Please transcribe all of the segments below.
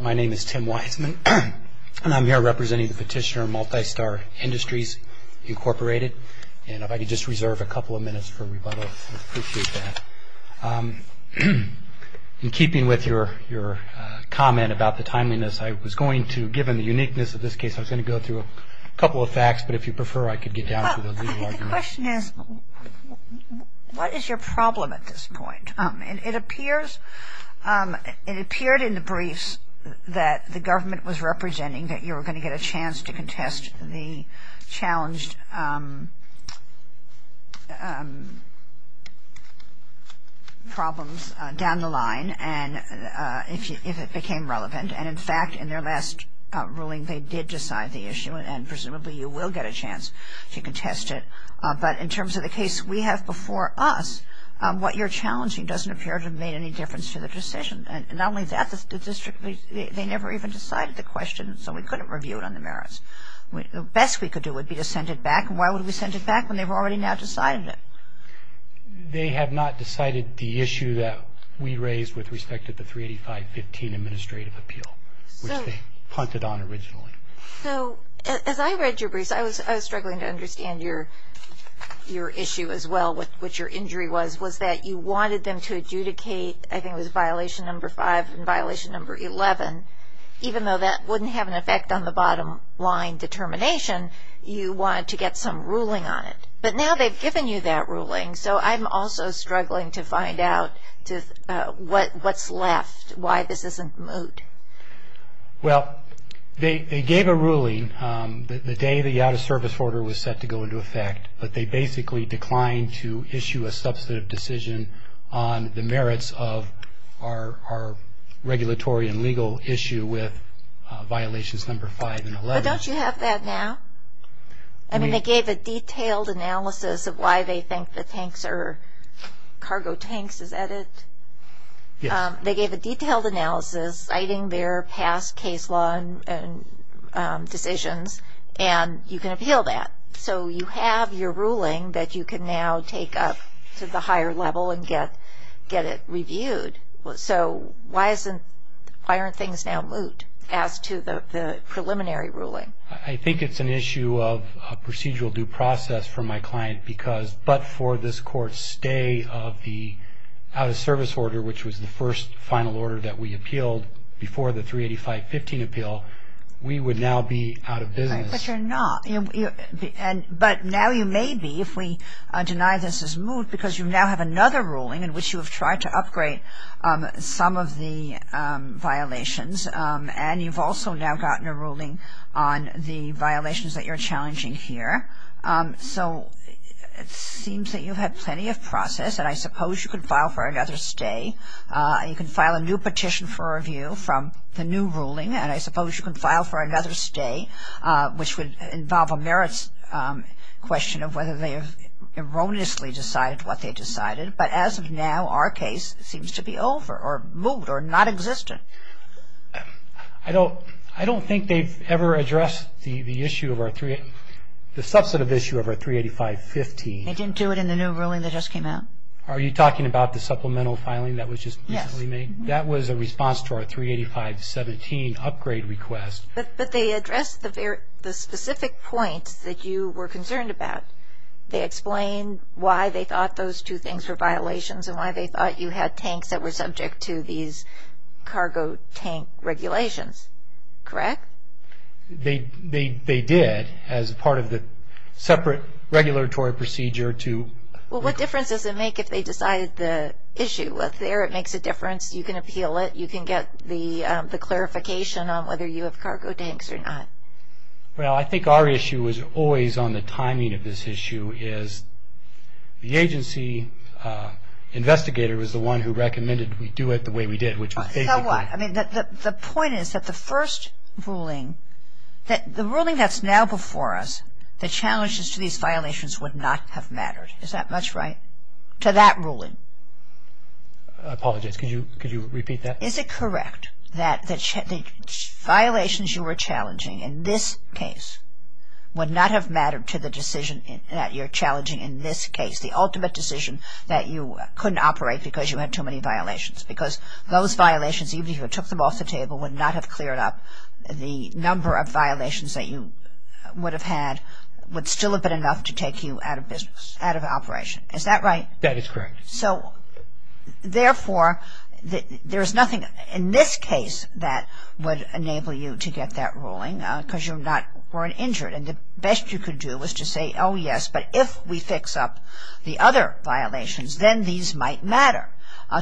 My name is Tim Weisman, and I'm here representing the petitioner, Multistar Industries, Inc. And if I could just reserve a couple of minutes for rebuttal, I'd appreciate that. In keeping with your comment about the timeliness, I was going to, given the uniqueness of this case, I was going to go through a couple of facts, but if you prefer, I could get down to the legal argument. The question is, what is your problem at this point? It appears, it appeared in the briefs that the government was representing that you were going to get a chance to contest the challenged problems down the line, if it became relevant. And in fact, in their last ruling, they did decide the issue, and presumably you will get a chance to contest it. But in terms of the case we have before us, what you're challenging doesn't appear to have made any difference to the decision. And not only that, the district, they never even decided the question, so we couldn't review it on the merits. The best we could do would be to send it back, and why would we send it back when they've already now decided it? They have not decided the issue that we raised with respect to the 38515 administrative appeal, which they punted on originally. So, as I read your briefs, I was struggling to understand your issue as well, which your injury was, was that you wanted them to adjudicate, I think it was violation number 5 and violation number 11. Even though that wouldn't have an effect on the bottom line determination, you wanted to get some ruling on it. But now they've given you that ruling, so I'm also struggling to find out what's left, why this isn't moved. Well, they gave a ruling the day the out-of-service order was set to go into effect, but they basically declined to issue a substantive decision on the merits of our regulatory and legal issue with violations number 5 and 11. But don't you have that now? I mean, they gave a detailed analysis of why they think the tanks are cargo tanks, is that it? Yes. They gave a detailed analysis citing their past case law decisions, and you can appeal that. So, you have your ruling that you can now take up to the higher level and get it reviewed. So, why aren't things now moved as to the preliminary ruling? I think it's an issue of procedural due process for my client, because but for this court's stay of the out-of-service order, which was the first final order that we appealed before the 385.15 appeal, we would now be out of business. But you're not. But now you may be if we deny this is moved because you now have another ruling in which you have tried to upgrade some of the violations. And you've also now gotten a ruling on the violations that you're challenging here. So, it seems that you have plenty of process, and I suppose you can file for another stay. You can file a new petition for review from the new ruling, and I suppose you can file for another stay, which would involve a merits question of whether they have erroneously decided what they decided. But as of now, our case seems to be over or moved or nonexistent. I don't think they've ever addressed the issue of our 385.15. They didn't do it in the new ruling that just came out? Are you talking about the supplemental filing that was just recently made? Yes. That was a response to our 385.17 upgrade request. But they addressed the specific points that you were concerned about. They explained why they thought those two things were violations and why they thought you had tanks that were subject to these cargo tank regulations, correct? They did as part of the separate regulatory procedure to… Well, what difference does it make if they decided the issue? Well, there it makes a difference. You can appeal it. You can get the clarification on whether you have cargo tanks or not. Well, I think our issue was always on the timing of this issue is the agency investigator was the one who recommended we do it the way we did, which was basically… So what? I mean, the point is that the first ruling, the ruling that's now before us, the challenges to these violations would not have mattered. Is that much right, to that ruling? I apologize. Could you repeat that? Is it correct that the violations you were challenging in this case would not have mattered to the decision that you're challenging in this case, the ultimate decision that you couldn't operate because you had too many violations? Because those violations, even if you took them off the table, would not have cleared up the number of violations that you would have had would still have been enough to take you out of business, out of operation. Is that right? That is correct. So, therefore, there is nothing in this case that would enable you to get that ruling because you're not – weren't injured. And the best you could do was to say, oh, yes, but if we fix up the other violations, then these might matter,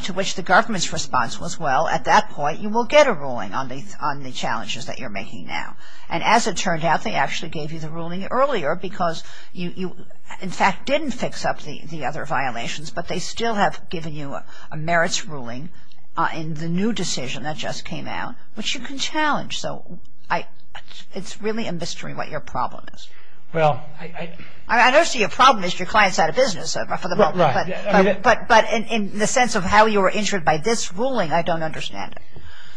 to which the government's response was, well, at that point you will get a ruling on the challenges that you're making now. And as it turned out, they actually gave you the ruling earlier because you, in fact, didn't fix up the other violations, but they still have given you a merits ruling in the new decision that just came out, which you can challenge. So it's really a mystery what your problem is. Well, I – I don't see your problem as your client's out of business for the moment. Right. But in the sense of how you were injured by this ruling, I don't understand it.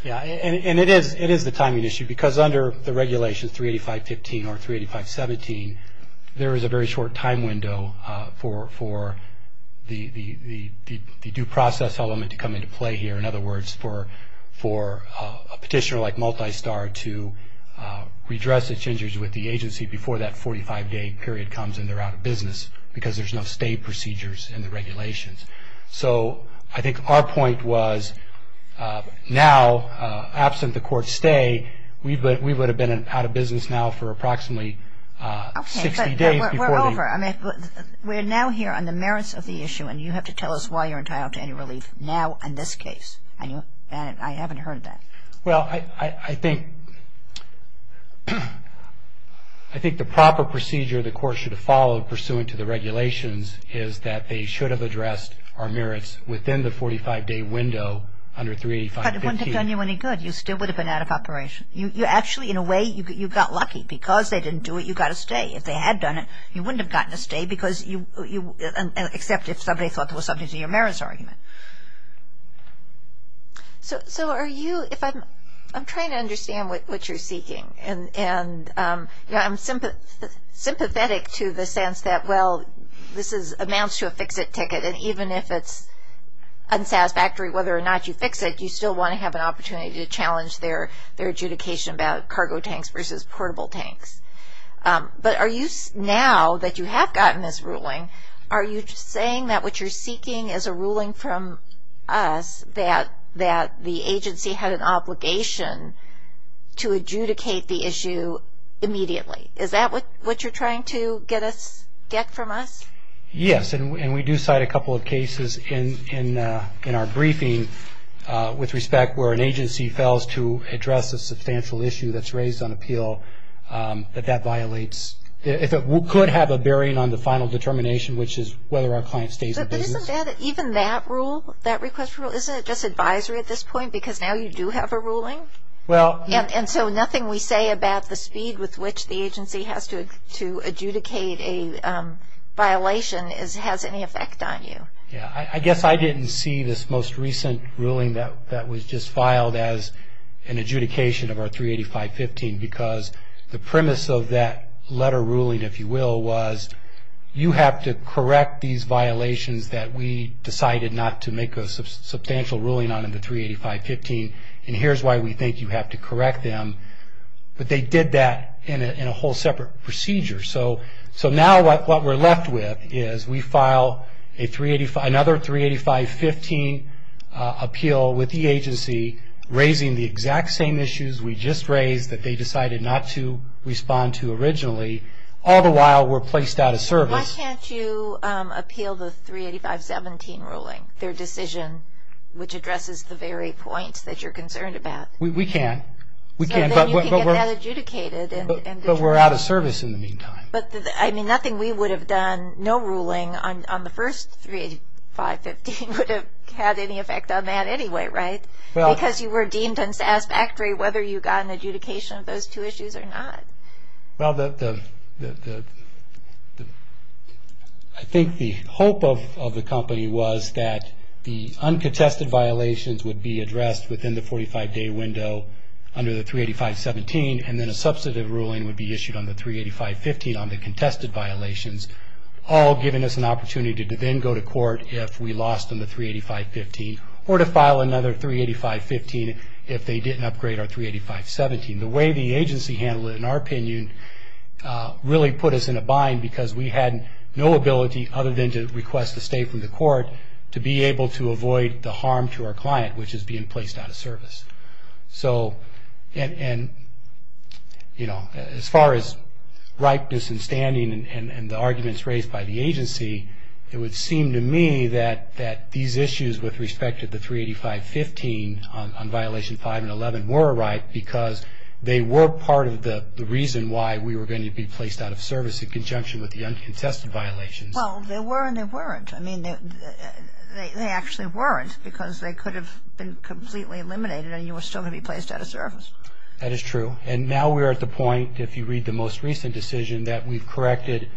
Yeah, and it is the timing issue because under the regulation 385.15 or 385.17, there is a very short time window for the due process element to come into play here. In other words, for a petitioner like Multistar to redress its injuries with the agency before that 45-day period comes and they're out of business because there's no stay procedures in the regulations. So I think our point was now, absent the court stay, we would have been out of business now for approximately 60 days before the – Okay, but we're over. I mean, we're now here on the merits of the issue, and you have to tell us why you're entitled to any relief now in this case. And I haven't heard that. Well, I think – I think the proper procedure the court should have followed pursuant to the regulations is that they should have addressed our merits within the 45-day window under 385.15. But it wouldn't have done you any good. You still would have been out of operation. Actually, in a way, you got lucky. Because they didn't do it, you got a stay. If they had done it, you wouldn't have gotten a stay because you – except if somebody thought there was something to your merits argument. So are you – I'm trying to understand what you're seeking, and I'm sympathetic to the sense that, well, this amounts to a fix-it ticket, and even if it's unsatisfactory, whether or not you fix it, you still want to have an opportunity to challenge their adjudication about cargo tanks versus portable tanks. But are you – now that you have gotten this ruling, are you saying that what you're seeking is a ruling from us that the agency had an obligation to adjudicate the issue immediately? Is that what you're trying to get from us? Yes, and we do cite a couple of cases in our briefing with respect where an agency fails to address a substantial issue that's raised on appeal that that violates – if it could have a bearing on the final determination, which is whether our client stays in business. But isn't that – even that rule, that request for rule, isn't it just advisory at this point because now you do have a ruling? And so nothing we say about the speed with which the agency has to adjudicate a violation has any effect on you. I guess I didn't see this most recent ruling that was just filed as an adjudication of our 385.15 because the premise of that letter ruling, if you will, was you have to correct these violations that we decided not to make a substantial ruling on in the 385.15, and here's why we think you have to correct them. But they did that in a whole separate procedure. So now what we're left with is we file another 385.15 appeal with the agency, raising the exact same issues we just raised that they decided not to respond to originally, all the while we're placed out of service. Why can't you appeal the 385.17 ruling, their decision, which addresses the very points that you're concerned about? We can. So then you can get that adjudicated. But we're out of service in the meantime. But, I mean, nothing we would have done, no ruling on the first 385.15 would have had any effect on that anyway, right? Because you were deemed unsatisfactory whether you got an adjudication of those two issues or not. Well, I think the hope of the company was that the uncontested violations would be addressed within the 45-day window under the 385.17, and then a substantive ruling would be issued on the 385.15 on the contested violations, all giving us an opportunity to then go to court if we lost on the 385.15, or to file another 385.15 if they didn't upgrade our 385.17. The way the agency handled it, in our opinion, really put us in a bind because we had no ability, other than to request a stay from the court, to be able to avoid the harm to our client, which is being placed out of service. So, and, you know, as far as ripeness and standing and the arguments raised by the agency, it would seem to me that these issues with respect to the 385.15 on violation 5 and 11 were ripe because they were part of the reason why we were going to be placed out of service in conjunction with the uncontested violations. Well, they were and they weren't. I mean, they actually weren't because they could have been completely eliminated and you were still going to be placed out of service. That is true. And now we're at the point, if you read the most recent decision, that we've corrected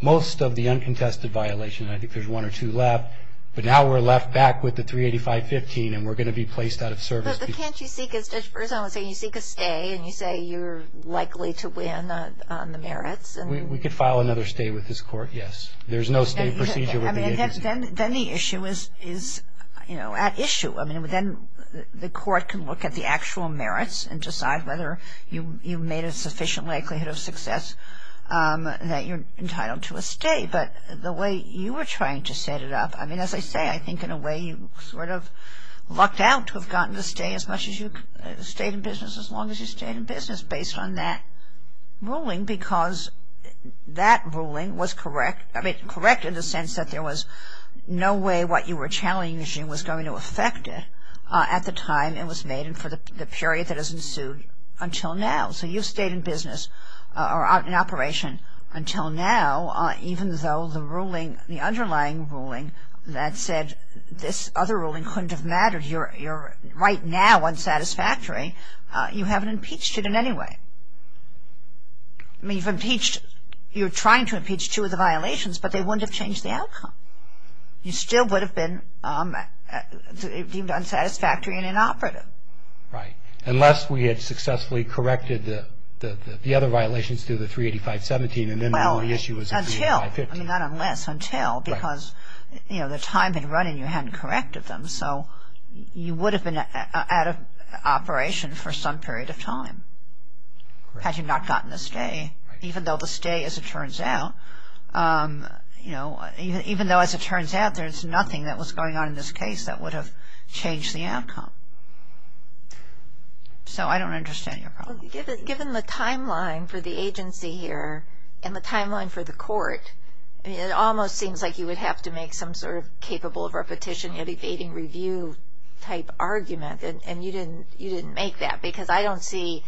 most of the uncontested violations. I think there's one or two left. But now we're left back with the 385.15 and we're going to be placed out of service. But can't you seek, as Judge Berzon was saying, you seek a stay and you say you're likely to win on the merits? We could file another stay with this court, yes. There's no state procedure with the agency. Then the issue is, you know, at issue. I mean, then the court can look at the actual merits and decide whether you've made a sufficient likelihood of success that you're entitled to a stay. But the way you were trying to set it up, I mean, as I say, I think in a way you sort of lucked out to have gotten a stay as much as you stayed in business as long as you stayed in business based on that ruling because that ruling was correct. I mean, correct in the sense that there was no way what you were challenging was going to affect it at the time it was made and for the period that has ensued until now. So you've stayed in business or in operation until now, even though the ruling, the underlying ruling that said this other ruling couldn't have mattered, you're right now unsatisfactory, you haven't impeached it in any way. I mean, you've impeached, you're trying to impeach two of the violations, but they wouldn't have changed the outcome. You still would have been deemed unsatisfactory and inoperative. Right. Unless we had successfully corrected the other violations through the 385.17 and then the only issue was the 385.15. Well, until, I mean, not unless, until because, you know, the time had run and you hadn't corrected them. So you would have been out of operation for some period of time. Correct. Had you not gotten the stay, even though the stay as it turns out, you know, even though as it turns out there's nothing that was going on in this case that would have changed the outcome. So I don't understand your problem. Given the timeline for the agency here and the timeline for the court, it almost seems like you would have to make some sort of capable of repetition yet evading review type argument and you didn't make that because I don't see,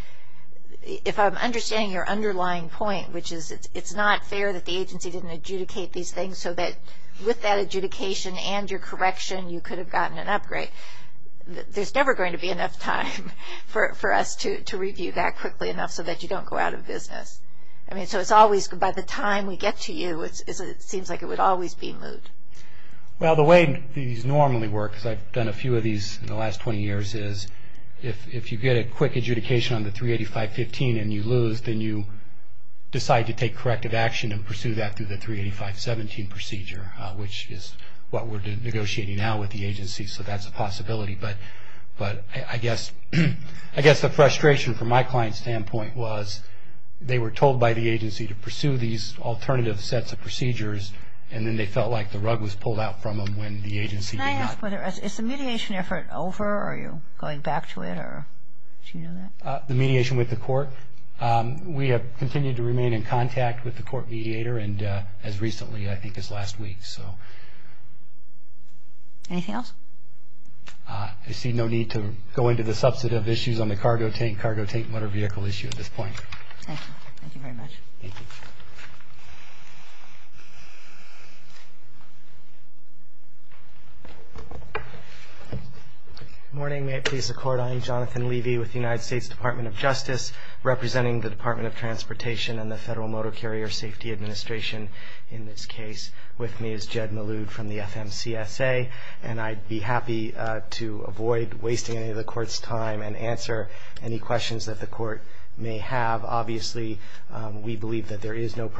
if I'm understanding your underlying point, which is it's not fair that the agency didn't adjudicate these things so that with that adjudication and your correction you could have gotten an upgrade. There's never going to be enough time for us to review that quickly enough so that you don't go out of business. I mean, so it's always, by the time we get to you, it seems like it would always be moved. Well, the way these normally work, because I've done a few of these in the last 20 years, is if you get a quick adjudication on the 385.15 and you lose, then you decide to take corrective action and pursue that through the 385.17 procedure, which is what we're negotiating now with the agency, so that's a possibility. But I guess the frustration from my client's standpoint was they were told by the agency to pursue these alternative sets of procedures and then they felt like the rug was pulled out from them when the agency did not. Is the mediation effort over? Are you going back to it? The mediation with the court, we have continued to remain in contact with the court mediator and as recently I think as last week. Anything else? I see no need to go into the substantive issues on the cargo tank, cargo tank and motor vehicle issue at this point. Thank you. Thank you very much. Thank you. Good morning. May it please the Court. I am Jonathan Levy with the United States Department of Justice, representing the Department of Transportation and the Federal Motor Carrier Safety Administration in this case. With me is Jed Maloud from the FMCSA and I'd be happy to avoid wasting any of the Court's time and answer any questions that the Court may have. Obviously, we believe that there is no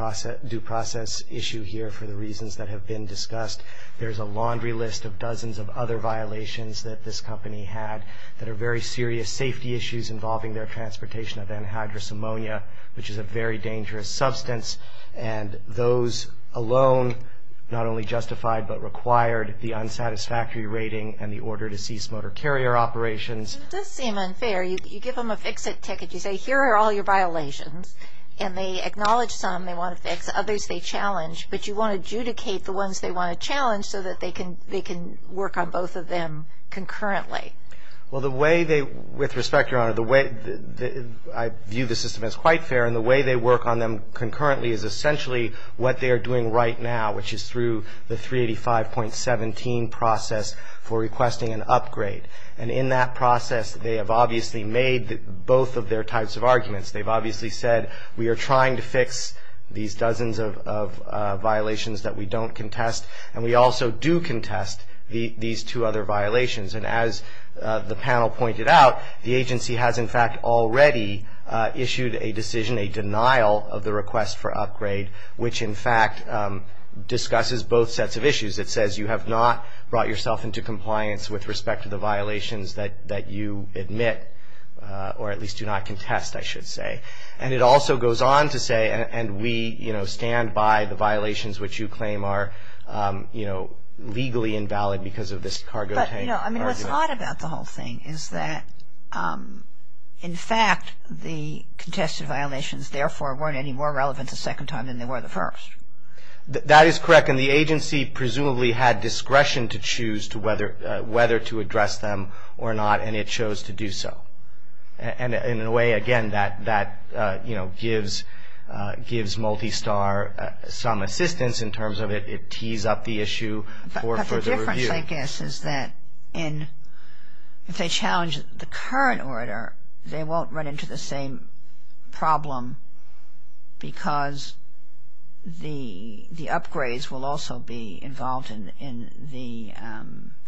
due process issue here for the reasons that have been discussed. There is a laundry list of dozens of other violations that this company had that are very serious safety issues involving their transportation of anhydrous ammonia, which is a very dangerous substance and those alone not only justified but required the unsatisfactory rating and the order to cease motor carrier operations. It does seem unfair. You give them a fix-it ticket. You say here are all your violations and they acknowledge some they want to fix, but you won't adjudicate the ones they want to challenge so that they can work on both of them concurrently. Well, the way they – with respect, Your Honor, the way – I view the system as quite fair and the way they work on them concurrently is essentially what they are doing right now, which is through the 385.17 process for requesting an upgrade. And in that process, they have obviously made both of their types of arguments. They have obviously said we are trying to fix these dozens of violations that we don't contest and we also do contest these two other violations. And as the panel pointed out, the agency has in fact already issued a decision, a denial of the request for upgrade, which in fact discusses both sets of issues. It says you have not brought yourself into compliance with respect to the violations that you admit or at least do not contest, I should say. And it also goes on to say and we, you know, stand by the violations which you claim are, you know, legally invalid because of this cargo tank argument. But, you know, I mean, what's odd about the whole thing is that, in fact, the contested violations therefore weren't any more relevant the second time than they were the first. That is correct. And the agency presumably had discretion to choose whether to address them or not and it chose to do so. And in a way, again, that, you know, gives Multistar some assistance in terms of it tees up the issue for further review. But the difference, I guess, is that if they challenge the current order, they won't run into the same problem because the upgrades will also be involved in the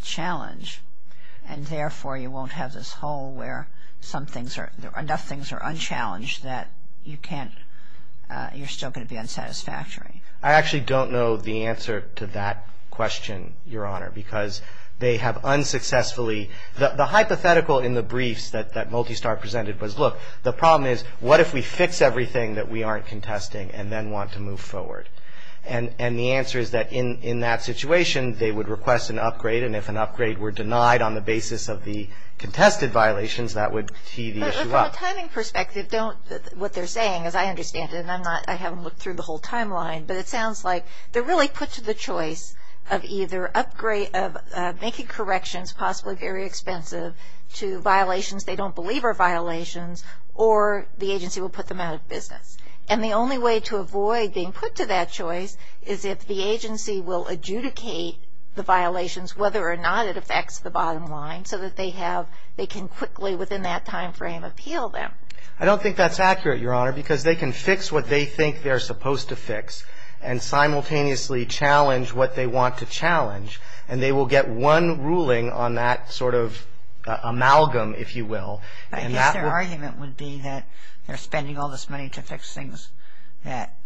challenge and therefore you won't have this hole where some things are, enough things are unchallenged that you can't, you're still going to be unsatisfactory. I actually don't know the answer to that question, Your Honor, because they have unsuccessfully, the hypothetical in the briefs that Multistar presented was, look, the problem is, what if we fix everything that we aren't contesting and then want to move forward? And the answer is that in that situation, they would request an upgrade and if an upgrade were denied on the basis of the contested violations, that would tee the issue up. But from a timing perspective, don't, what they're saying, as I understand it, and I'm not, I haven't looked through the whole timeline, but it sounds like they're really put to the choice of either upgrade, of making corrections possibly very expensive to violations they don't believe are violations or the agency will put them out of business. And the only way to avoid being put to that choice is if the agency will adjudicate the violations, whether or not it affects the bottom line, so that they have, they can quickly within that timeframe appeal them. I don't think that's accurate, Your Honor, because they can fix what they think they're supposed to fix and simultaneously challenge what they want to challenge and they will get one ruling on that sort of amalgam, if you will. I guess their argument would be that they're spending all this money to fix things that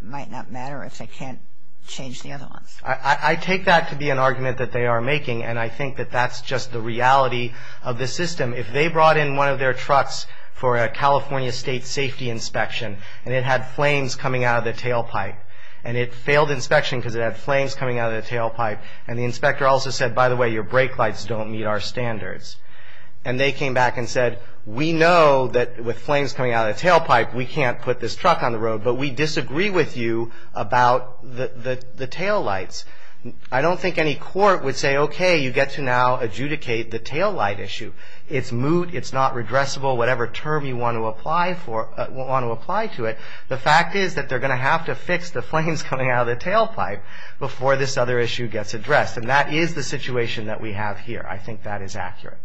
might not matter if they can't change the other ones. I take that to be an argument that they are making and I think that that's just the reality of the system. If they brought in one of their trucks for a California State Safety Inspection and it had flames coming out of the tailpipe and it failed inspection because it had flames coming out of the tailpipe and the inspector also said, by the way, your brake lights don't meet our standards and they came back and said, we know that with flames coming out of the tailpipe, we can't put this truck on the road, but we disagree with you about the taillights. I don't think any court would say, okay, you get to now adjudicate the taillight issue. It's moot, it's not redressable, whatever term you want to apply to it. The fact is that they're going to have to fix the flames coming out of the tailpipe before this other issue gets addressed and that is the situation that we have here. I think that is accurate.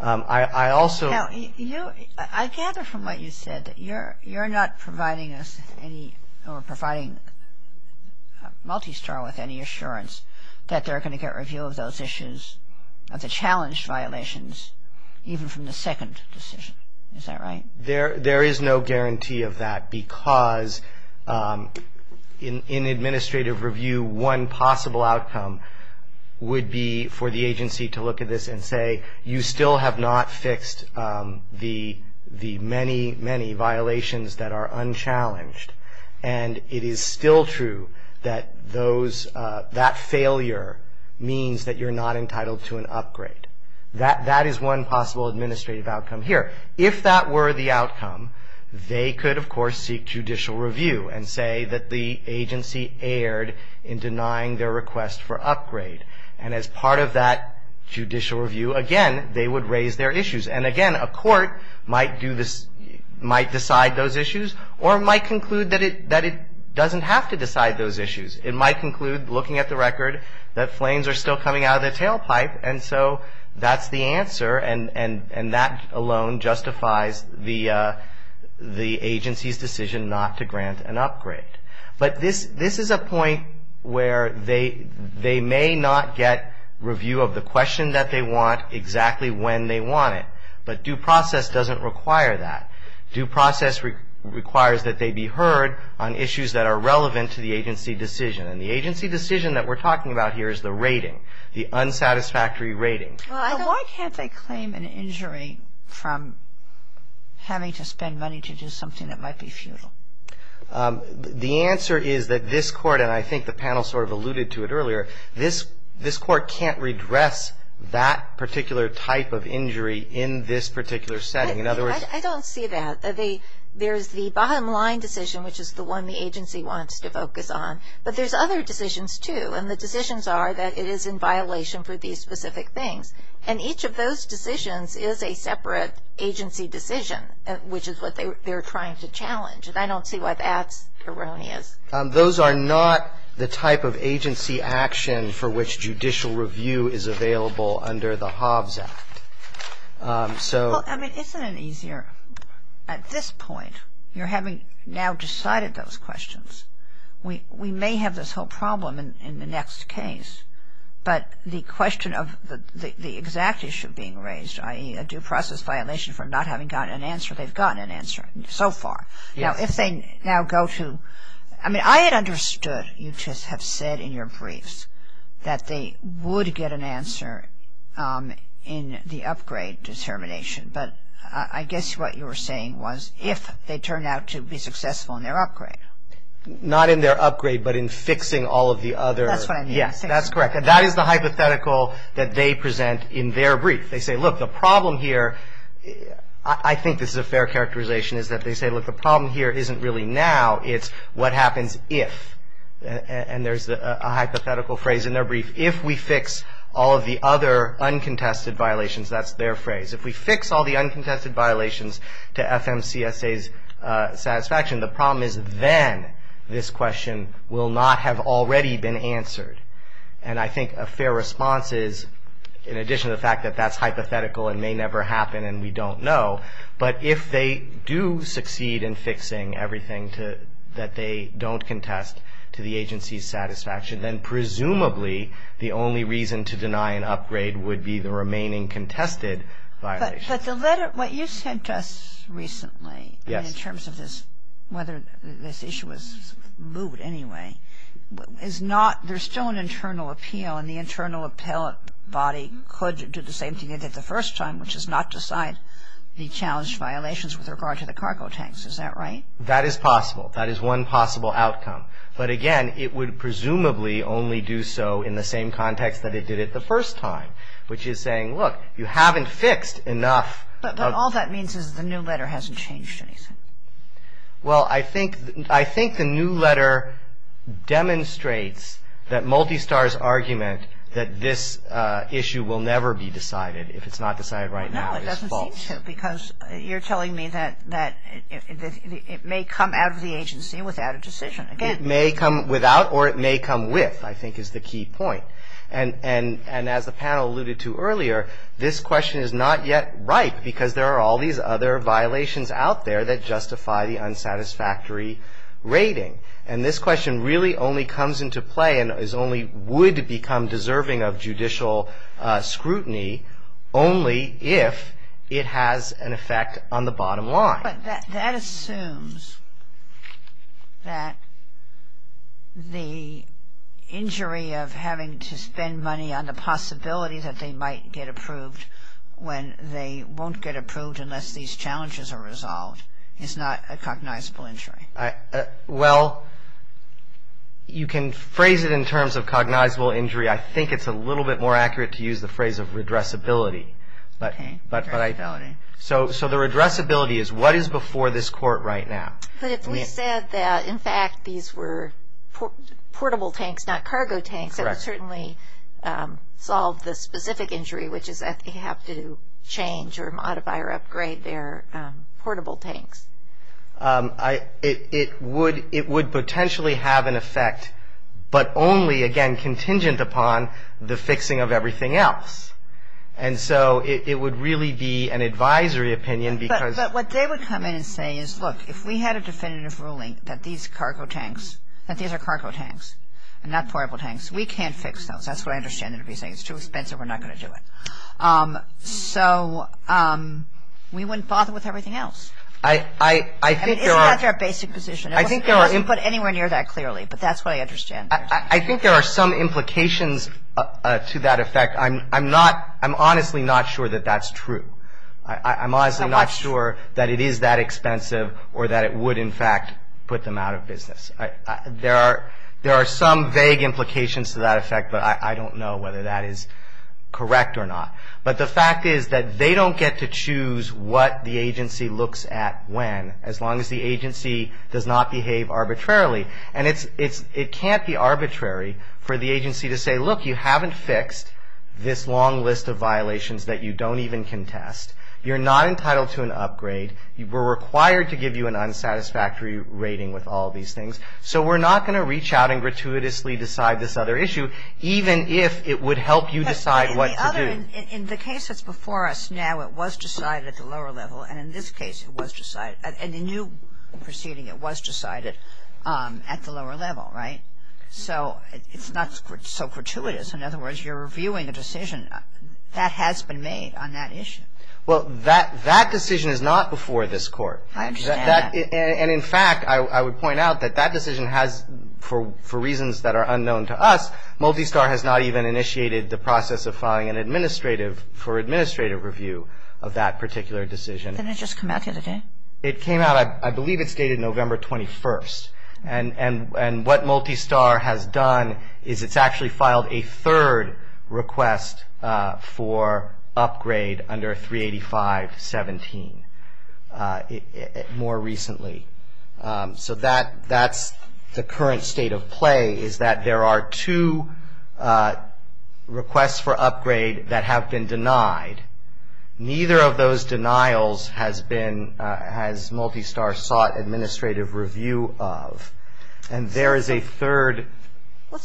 I also... You know, I gather from what you said that you're not providing us any or providing Multistar with any assurance that they're going to get review of those issues, of the challenged violations, even from the second decision. Is that right? There is no guarantee of that because in administrative review, one possible outcome would be for the agency to look at this and say, you still have not fixed the many, many violations that are unchallenged and it is still true that those, that failure means that you're not entitled to an upgrade. That is one possible administrative outcome here. If that were the outcome, they could, of course, seek judicial review and say that the agency erred in denying their request for upgrade and as part of that judicial review, again, they would raise their issues. And again, a court might decide those issues or might conclude that it doesn't have to decide those issues. It might conclude, looking at the record, that flames are still coming out of the tailpipe and so that's the answer and that alone justifies the agency's decision not to grant an upgrade. But this is a point where they may not get review of the question that they want exactly when they want it, but due process doesn't require that. Due process requires that they be heard on issues that are relevant to the agency decision and the agency decision that we're talking about here is the rating, the unsatisfactory rating. Why can't they claim an injury from having to spend money to do something that might be futile? The answer is that this Court, and I think the panel sort of alluded to it earlier, this Court can't redress that particular type of injury in this particular setting. I don't see that. There's the bottom line decision, which is the one the agency wants to focus on, but there's other decisions, too, and the decisions are that it is in violation for these specific things. And each of those decisions is a separate agency decision, which is what they're trying to challenge, and I don't see why that's erroneous. Those are not the type of agency action for which judicial review is available under the Hobbs Act. Well, I mean, isn't it easier at this point? You're having now decided those questions. We may have this whole problem in the next case, but the question of the exact issue being raised, i.e., a due process violation for not having gotten an answer, they've gotten an answer so far. Now, if they now go to, I mean, I had understood you just have said in your briefs that they would get an answer in the upgrade determination, but I guess what you were saying was if they turned out to be successful in their upgrade. Not in their upgrade, but in fixing all of the other. That's what I mean. Yes, that's correct. And that is the hypothetical that they present in their brief. They say, look, the problem here, I think this is a fair characterization, is that they say, look, the problem here isn't really now. It's what happens if, and there's a hypothetical phrase in their brief, if we fix all of the other uncontested violations, that's their phrase. If we fix all the uncontested violations to FMCSA's satisfaction, the problem is then this question will not have already been answered. And I think a fair response is, in addition to the fact that that's hypothetical and may never happen and we don't know, but if they do succeed in fixing everything that they don't contest to the agency's satisfaction, then presumably the only reason to deny an upgrade would be the remaining contested violations. But what you said just recently in terms of this, whether this issue was moved anyway, is not, there's still an internal appeal, and the internal appellate body could do the same thing they did the first time, which is not decide the challenged violations with regard to the cargo tanks. Is that right? That is possible. That is one possible outcome. But again, it would presumably only do so in the same context that it did it the first time, which is saying, look, you haven't fixed enough. But all that means is the new letter hasn't changed anything. Well, I think the new letter demonstrates that Multistar's argument that this issue will never be decided if it's not decided right now is false. No, it doesn't seem so because you're telling me that it may come out of the agency without a decision. It may come without or it may come with, I think, is the key point. And as the panel alluded to earlier, this question is not yet right because there are all these other violations out there that justify the unsatisfactory rating. And this question really only comes into play and only would become deserving of judicial scrutiny only if it has an effect on the bottom line. But that assumes that the injury of having to spend money on the possibility that they might get approved when they won't get approved unless these challenges are resolved is not a cognizable injury. Well, you can phrase it in terms of cognizable injury. I think it's a little bit more accurate to use the phrase of redressability. So the redressability is what is before this court right now. But if we said that, in fact, these were portable tanks, not cargo tanks, that would certainly solve the specific injury, which is that they have to change or modify or upgrade their portable tanks. It would potentially have an effect, but only, again, contingent upon the fixing of everything else. And so it would really be an advisory opinion because... But what they would come in and say is, look, if we had a definitive ruling that these are cargo tanks and not portable tanks, we can't fix those. That's what I understand them to be saying. It's too expensive. We're not going to do it. So we wouldn't bother with everything else. I think there are... I mean, isn't that their basic position? It wasn't put anywhere near that clearly, but that's what I understand. I think there are some implications to that effect. I'm not – I'm honestly not sure that that's true. I'm honestly not sure that it is that expensive or that it would, in fact, put them out of business. There are some vague implications to that effect, but I don't know whether that is correct or not. But the fact is that they don't get to choose what the agency looks at when, as long as the agency does not behave arbitrarily. And it can't be arbitrary for the agency to say, look, you haven't fixed this long list of violations that you don't even contest. You're not entitled to an upgrade. We're required to give you an unsatisfactory rating with all these things. So we're not going to reach out and gratuitously decide this other issue, even if it would help you decide what to do. In the case that's before us now, it was decided at the lower level. And in this case, it was decided – in the new proceeding, it was decided at the lower level, right? So it's not so gratuitous. In other words, you're reviewing a decision that has been made on that issue. Well, that decision is not before this Court. I understand. And, in fact, I would point out that that decision has, for reasons that are unknown to us, Multistar has not even initiated the process of filing an administrative – for administrative review of that particular decision. Didn't it just come out the other day? It came out – I believe it's dated November 21st. And what Multistar has done is it's actually filed a third request for upgrade under 385.17 more recently. So that's the current state of play is that there are two requests for upgrade that have been denied. Neither of those denials has been – has Multistar sought administrative review of. And there is a third – And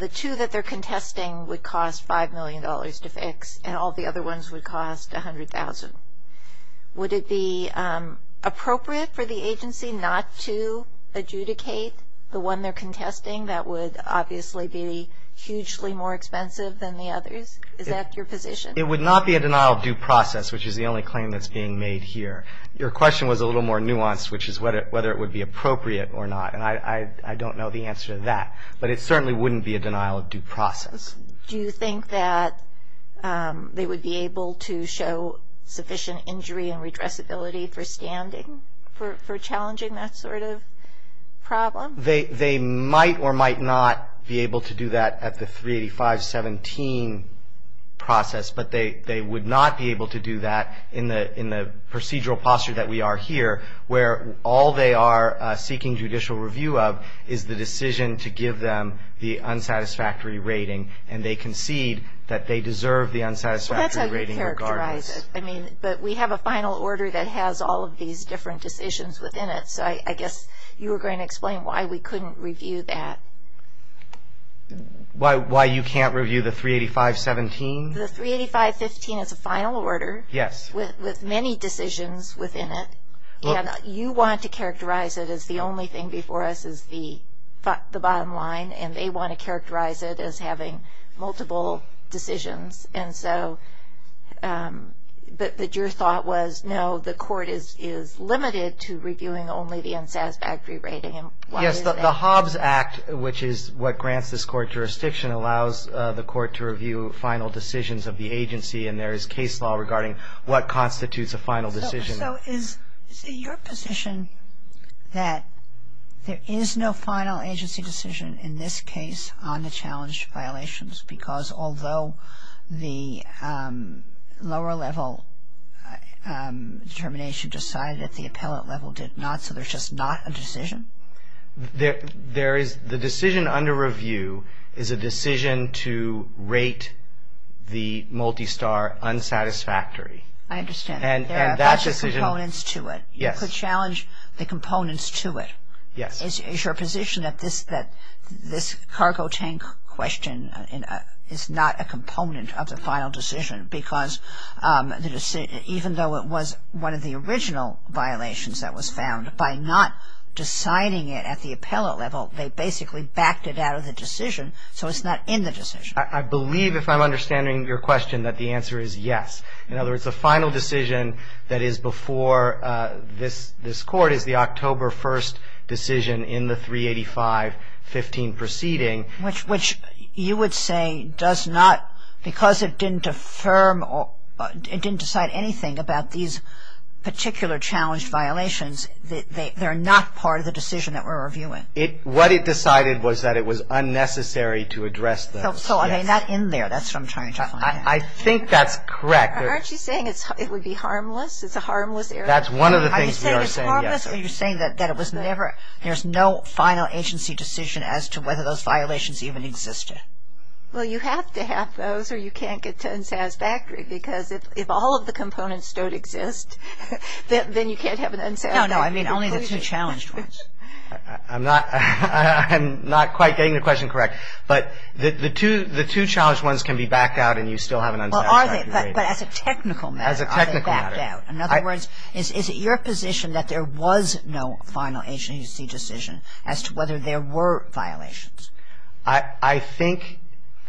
the two that they're contesting would cost $5 million to fix. And all the other ones would cost $100,000. Would it be appropriate for the agency not to adjudicate the one they're contesting? That would obviously be hugely more expensive than the others. Is that your position? It would not be a denial of due process, which is the only claim that's being made here. Your question was a little more nuanced, which is whether it would be appropriate or not. And I don't know the answer to that. But it certainly wouldn't be a denial of due process. Do you think that they would be able to show sufficient injury and redressability for standing for challenging that sort of problem? They might or might not be able to do that at the 385.17 process. But they would not be able to do that in the procedural posture that we are here, where all they are seeking judicial review of is the decision to give them the unsatisfactory rating. And they concede that they deserve the unsatisfactory rating regardless. Well, that's how you characterize it. But we have a final order that has all of these different decisions within it. So I guess you were going to explain why we couldn't review that. Why you can't review the 385.17? The 385.15 is a final order with many decisions within it. And you want to characterize it as the only thing before us is the bottom line. And they want to characterize it as having multiple decisions. And so but your thought was, no, the court is limited to reviewing only the unsatisfactory rating. Yes, the Hobbs Act, which is what grants this court jurisdiction, allows the court to review final decisions of the agency. And there is case law regarding what constitutes a final decision. So is it your position that there is no final agency decision in this case on the challenged violations? Because although the lower level determination decided that the appellate level did not, so there's just not a decision? The decision under review is a decision to rate the multi-star unsatisfactory. I understand. That's the components to it. Yes. You could challenge the components to it. Yes. Is your position that this cargo tank question is not a component of the final decision? Because even though it was one of the original violations that was found, by not deciding it at the appellate level, they basically backed it out of the decision. So it's not in the decision. I believe, if I'm understanding your question, that the answer is yes. In other words, the final decision that is before this court is the October 1st decision in the 385-15 proceeding. Which you would say does not, because it didn't affirm, it didn't decide anything about these particular challenged violations, they're not part of the decision that we're reviewing. What it decided was that it was unnecessary to address those. So, I mean, not in there. That's what I'm trying to find out. I think that's correct. Aren't you saying it would be harmless? It's a harmless error? That's one of the things we are saying, yes. Are you saying it's harmless, or are you saying that it was never, there's no final agency decision as to whether those violations even existed? Well, you have to have those, or you can't get to unsatisfactory. Because if all of the components don't exist, then you can't have an unsatisfactory conclusion. No, no, I mean only the two challenged ones. I'm not quite getting the question correct. But the two challenged ones can be backed out and you still have an unsatisfactory rating. Well, are they? But as a technical matter. As a technical matter. Are they backed out? In other words, is it your position that there was no final agency decision as to whether there were violations? I think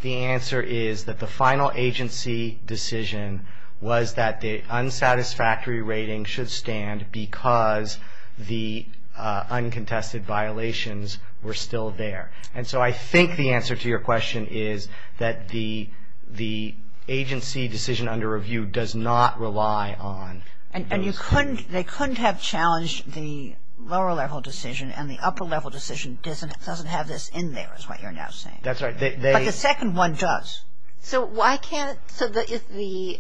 the answer is that the final agency decision was that the unsatisfactory rating should stand because the uncontested violations were still there. And so I think the answer to your question is that the agency decision under review does not rely on those. And they couldn't have challenged the lower level decision and the upper level decision doesn't have this in there is what you're now saying. That's right. But the second one does. So why can't, so if the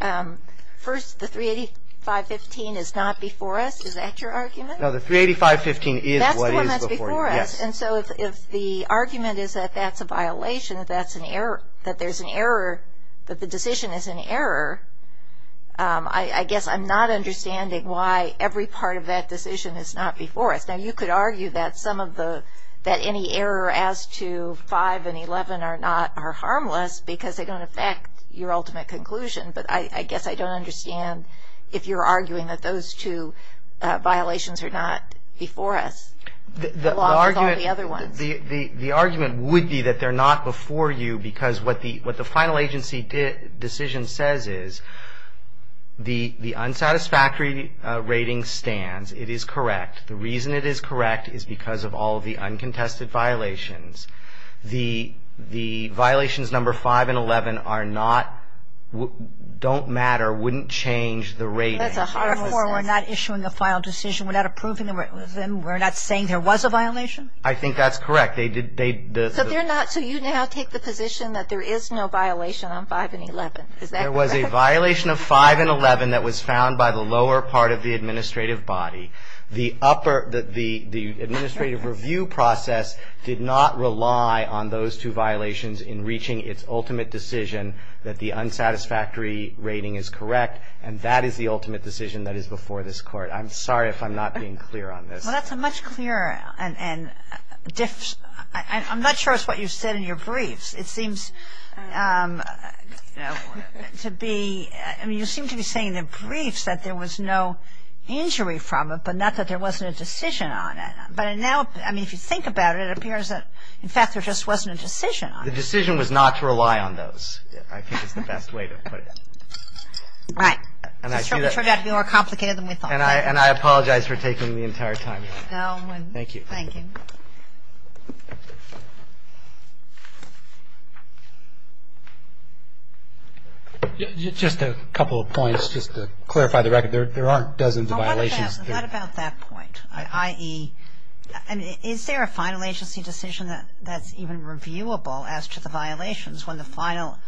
first, the 385.15 is not before us, is that your argument? No, the 385.15 is what is before you. That's the one that's before us. Yes. And so if the argument is that that's a violation, that that's an error, that there's an error, that the decision is an error, I guess I'm not understanding why every part of that decision is not before us. Now, you could argue that some of the, that any error as to 5 and 11 are not, are harmless because they don't affect your ultimate conclusion. But I guess I don't understand if you're arguing that those two violations are not before us. The argument, the argument would be that they're not before you because what the final agency decision says is the unsatisfactory rating stands. It is correct. The reason it is correct is because of all of the uncontested violations. The violations number 5 and 11 are not, don't matter, wouldn't change the rating. Therefore, we're not issuing a final decision. We're not approving them. We're not saying there was a violation? I think that's correct. They did, they. So they're not, so you now take the position that there is no violation on 5 and 11. Is that correct? There was a violation of 5 and 11 that was found by the lower part of the administrative body. The upper, the administrative review process did not rely on those two violations in reaching its ultimate decision that the unsatisfactory rating is correct and that is the ultimate decision that is before this Court. I'm sorry if I'm not being clear on this. Well, that's a much clearer, and I'm not sure it's what you said in your briefs. It seems to be, I mean, you seem to be saying in the briefs that there was no injury from it, but not that there wasn't a decision on it. But now, I mean, if you think about it, it appears that, in fact, there just wasn't a decision on it. The decision was not to rely on those, I think is the best way to put it. Right. It turned out to be more complicated than we thought. And I apologize for taking the entire time. No. Thank you. Thank you. Just a couple of points, just to clarify the record. There are dozens of violations. Not about that point. I.e., is there a final agency decision that's even reviewable as to the violations when the final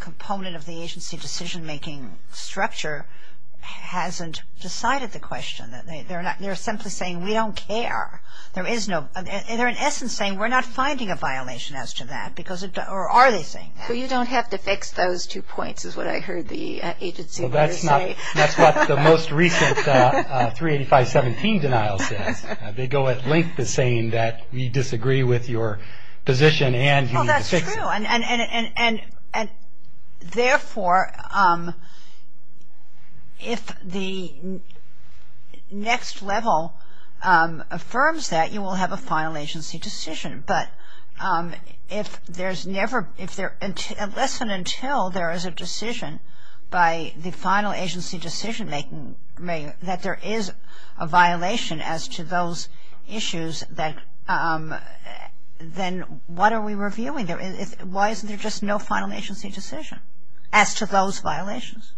component of the agency decision-making structure hasn't decided the question? They're simply saying we don't care. They're, in essence, saying we're not finding a violation as to that, or are they saying? Well, you don't have to fix those two points is what I heard the agency lawyers say. That's what the most recent 385.17 denial says. They go at length as saying that we disagree with your position and you need to fix it. That's true. And, therefore, if the next level affirms that, you will have a final agency decision. But if there's never, unless and until there is a decision by the final agency decision-making, that there is a violation as to those issues, then what are we reviewing? Why isn't there just no final agency decision as to those violations?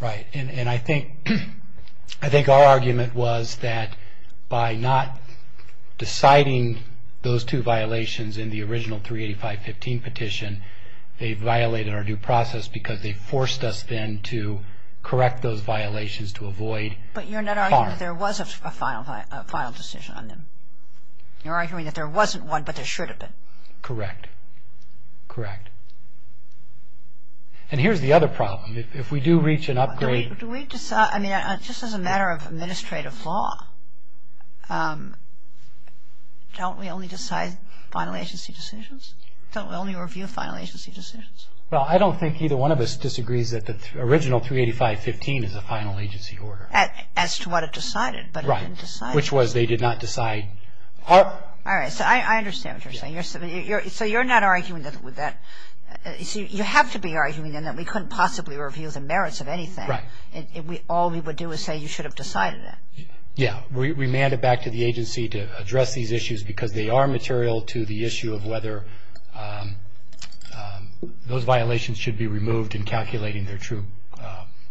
Right. And I think our argument was that by not deciding those two violations in the original 385.15 petition, they violated our due process because they forced us then to correct those violations to avoid harm. But you're not arguing that there was a final decision on them. You're arguing that there wasn't one, but there should have been. Correct. Correct. And here's the other problem. If we do reach an upgrade. Do we decide, I mean, just as a matter of administrative law, don't we only decide final agency decisions? Don't we only review final agency decisions? Well, I don't think either one of us disagrees that the original 385.15 is a final agency order. As to what it decided, but it didn't decide. Right. Which was they did not decide. All right. So I understand what you're saying. So you're not arguing with that. You have to be arguing then that we couldn't possibly review the merits of anything. Right. All we would do is say you should have decided that. Yeah. And then remand it back to the agency to address these issues, because they are material to the issue of whether those violations should be removed in calculating their true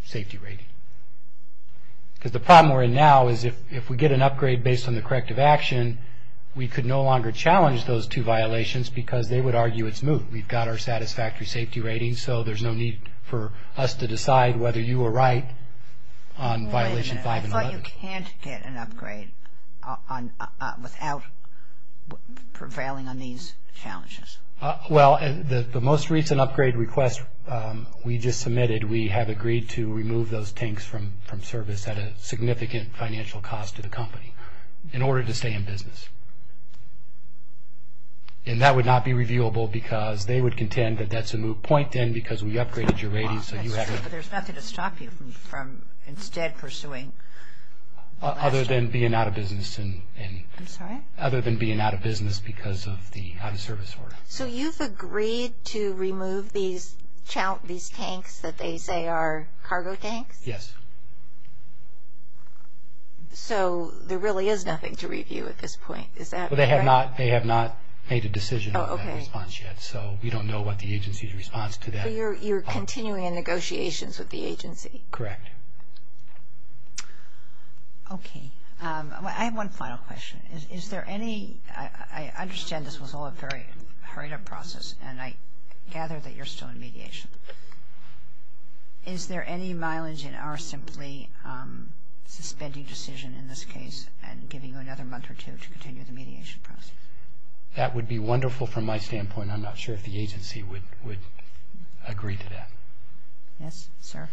safety rating. Because the problem we're in now is if we get an upgrade based on the corrective action, we could no longer challenge those two violations because they would argue it's moot. We've got our satisfactory safety rating, so there's no need for us to decide whether you were right on violation 5. So you're saying we can't upgrade without prevailing on these challenges. Well, the most recent upgrade request we just submitted, we have agreed to remove those tanks from service at a significant financial cost to the company in order to stay in business. And that would not be reviewable because they would contend that that's a moot point then because we upgraded your rating so you have to. But there's nothing to stop you from instead pursuing. Other than being out of business. I'm sorry? Other than being out of business because of the out-of-service order. So you've agreed to remove these tanks that they say are cargo tanks? Yes. So there really is nothing to review at this point, is that correct? Well, they have not made a decision on that response yet, so we don't know what the agency's response to that. So you're continuing in negotiations with the agency? Correct. Okay. I have one final question. I understand this was all a very hurried process, and I gather that you're still in mediation. Is there any mileage in our simply suspending decision in this case and giving you another month or two to continue the mediation process? That would be wonderful from my standpoint. I'm not sure if the agency would agree to that. Yes, sir?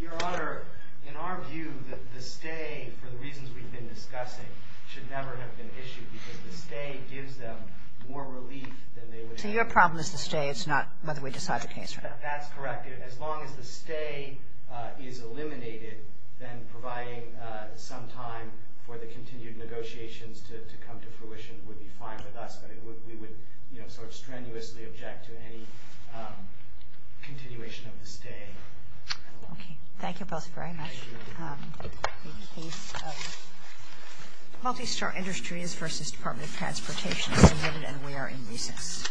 Your Honor, in our view, the stay, for the reasons we've been discussing, should never have been issued because the stay gives them more relief than they would have been issued. So your problem is the stay. It's not whether we decide the case, right? That's correct. As long as the stay is eliminated, then providing some time for the continued negotiations to come to fruition would be fine with us. But we would sort of strenuously object to any continuation of the stay. Okay. Thank you both very much. Thank you. The case of Multistar Industries v. Department of Transportation is eliminated, and we are in recess.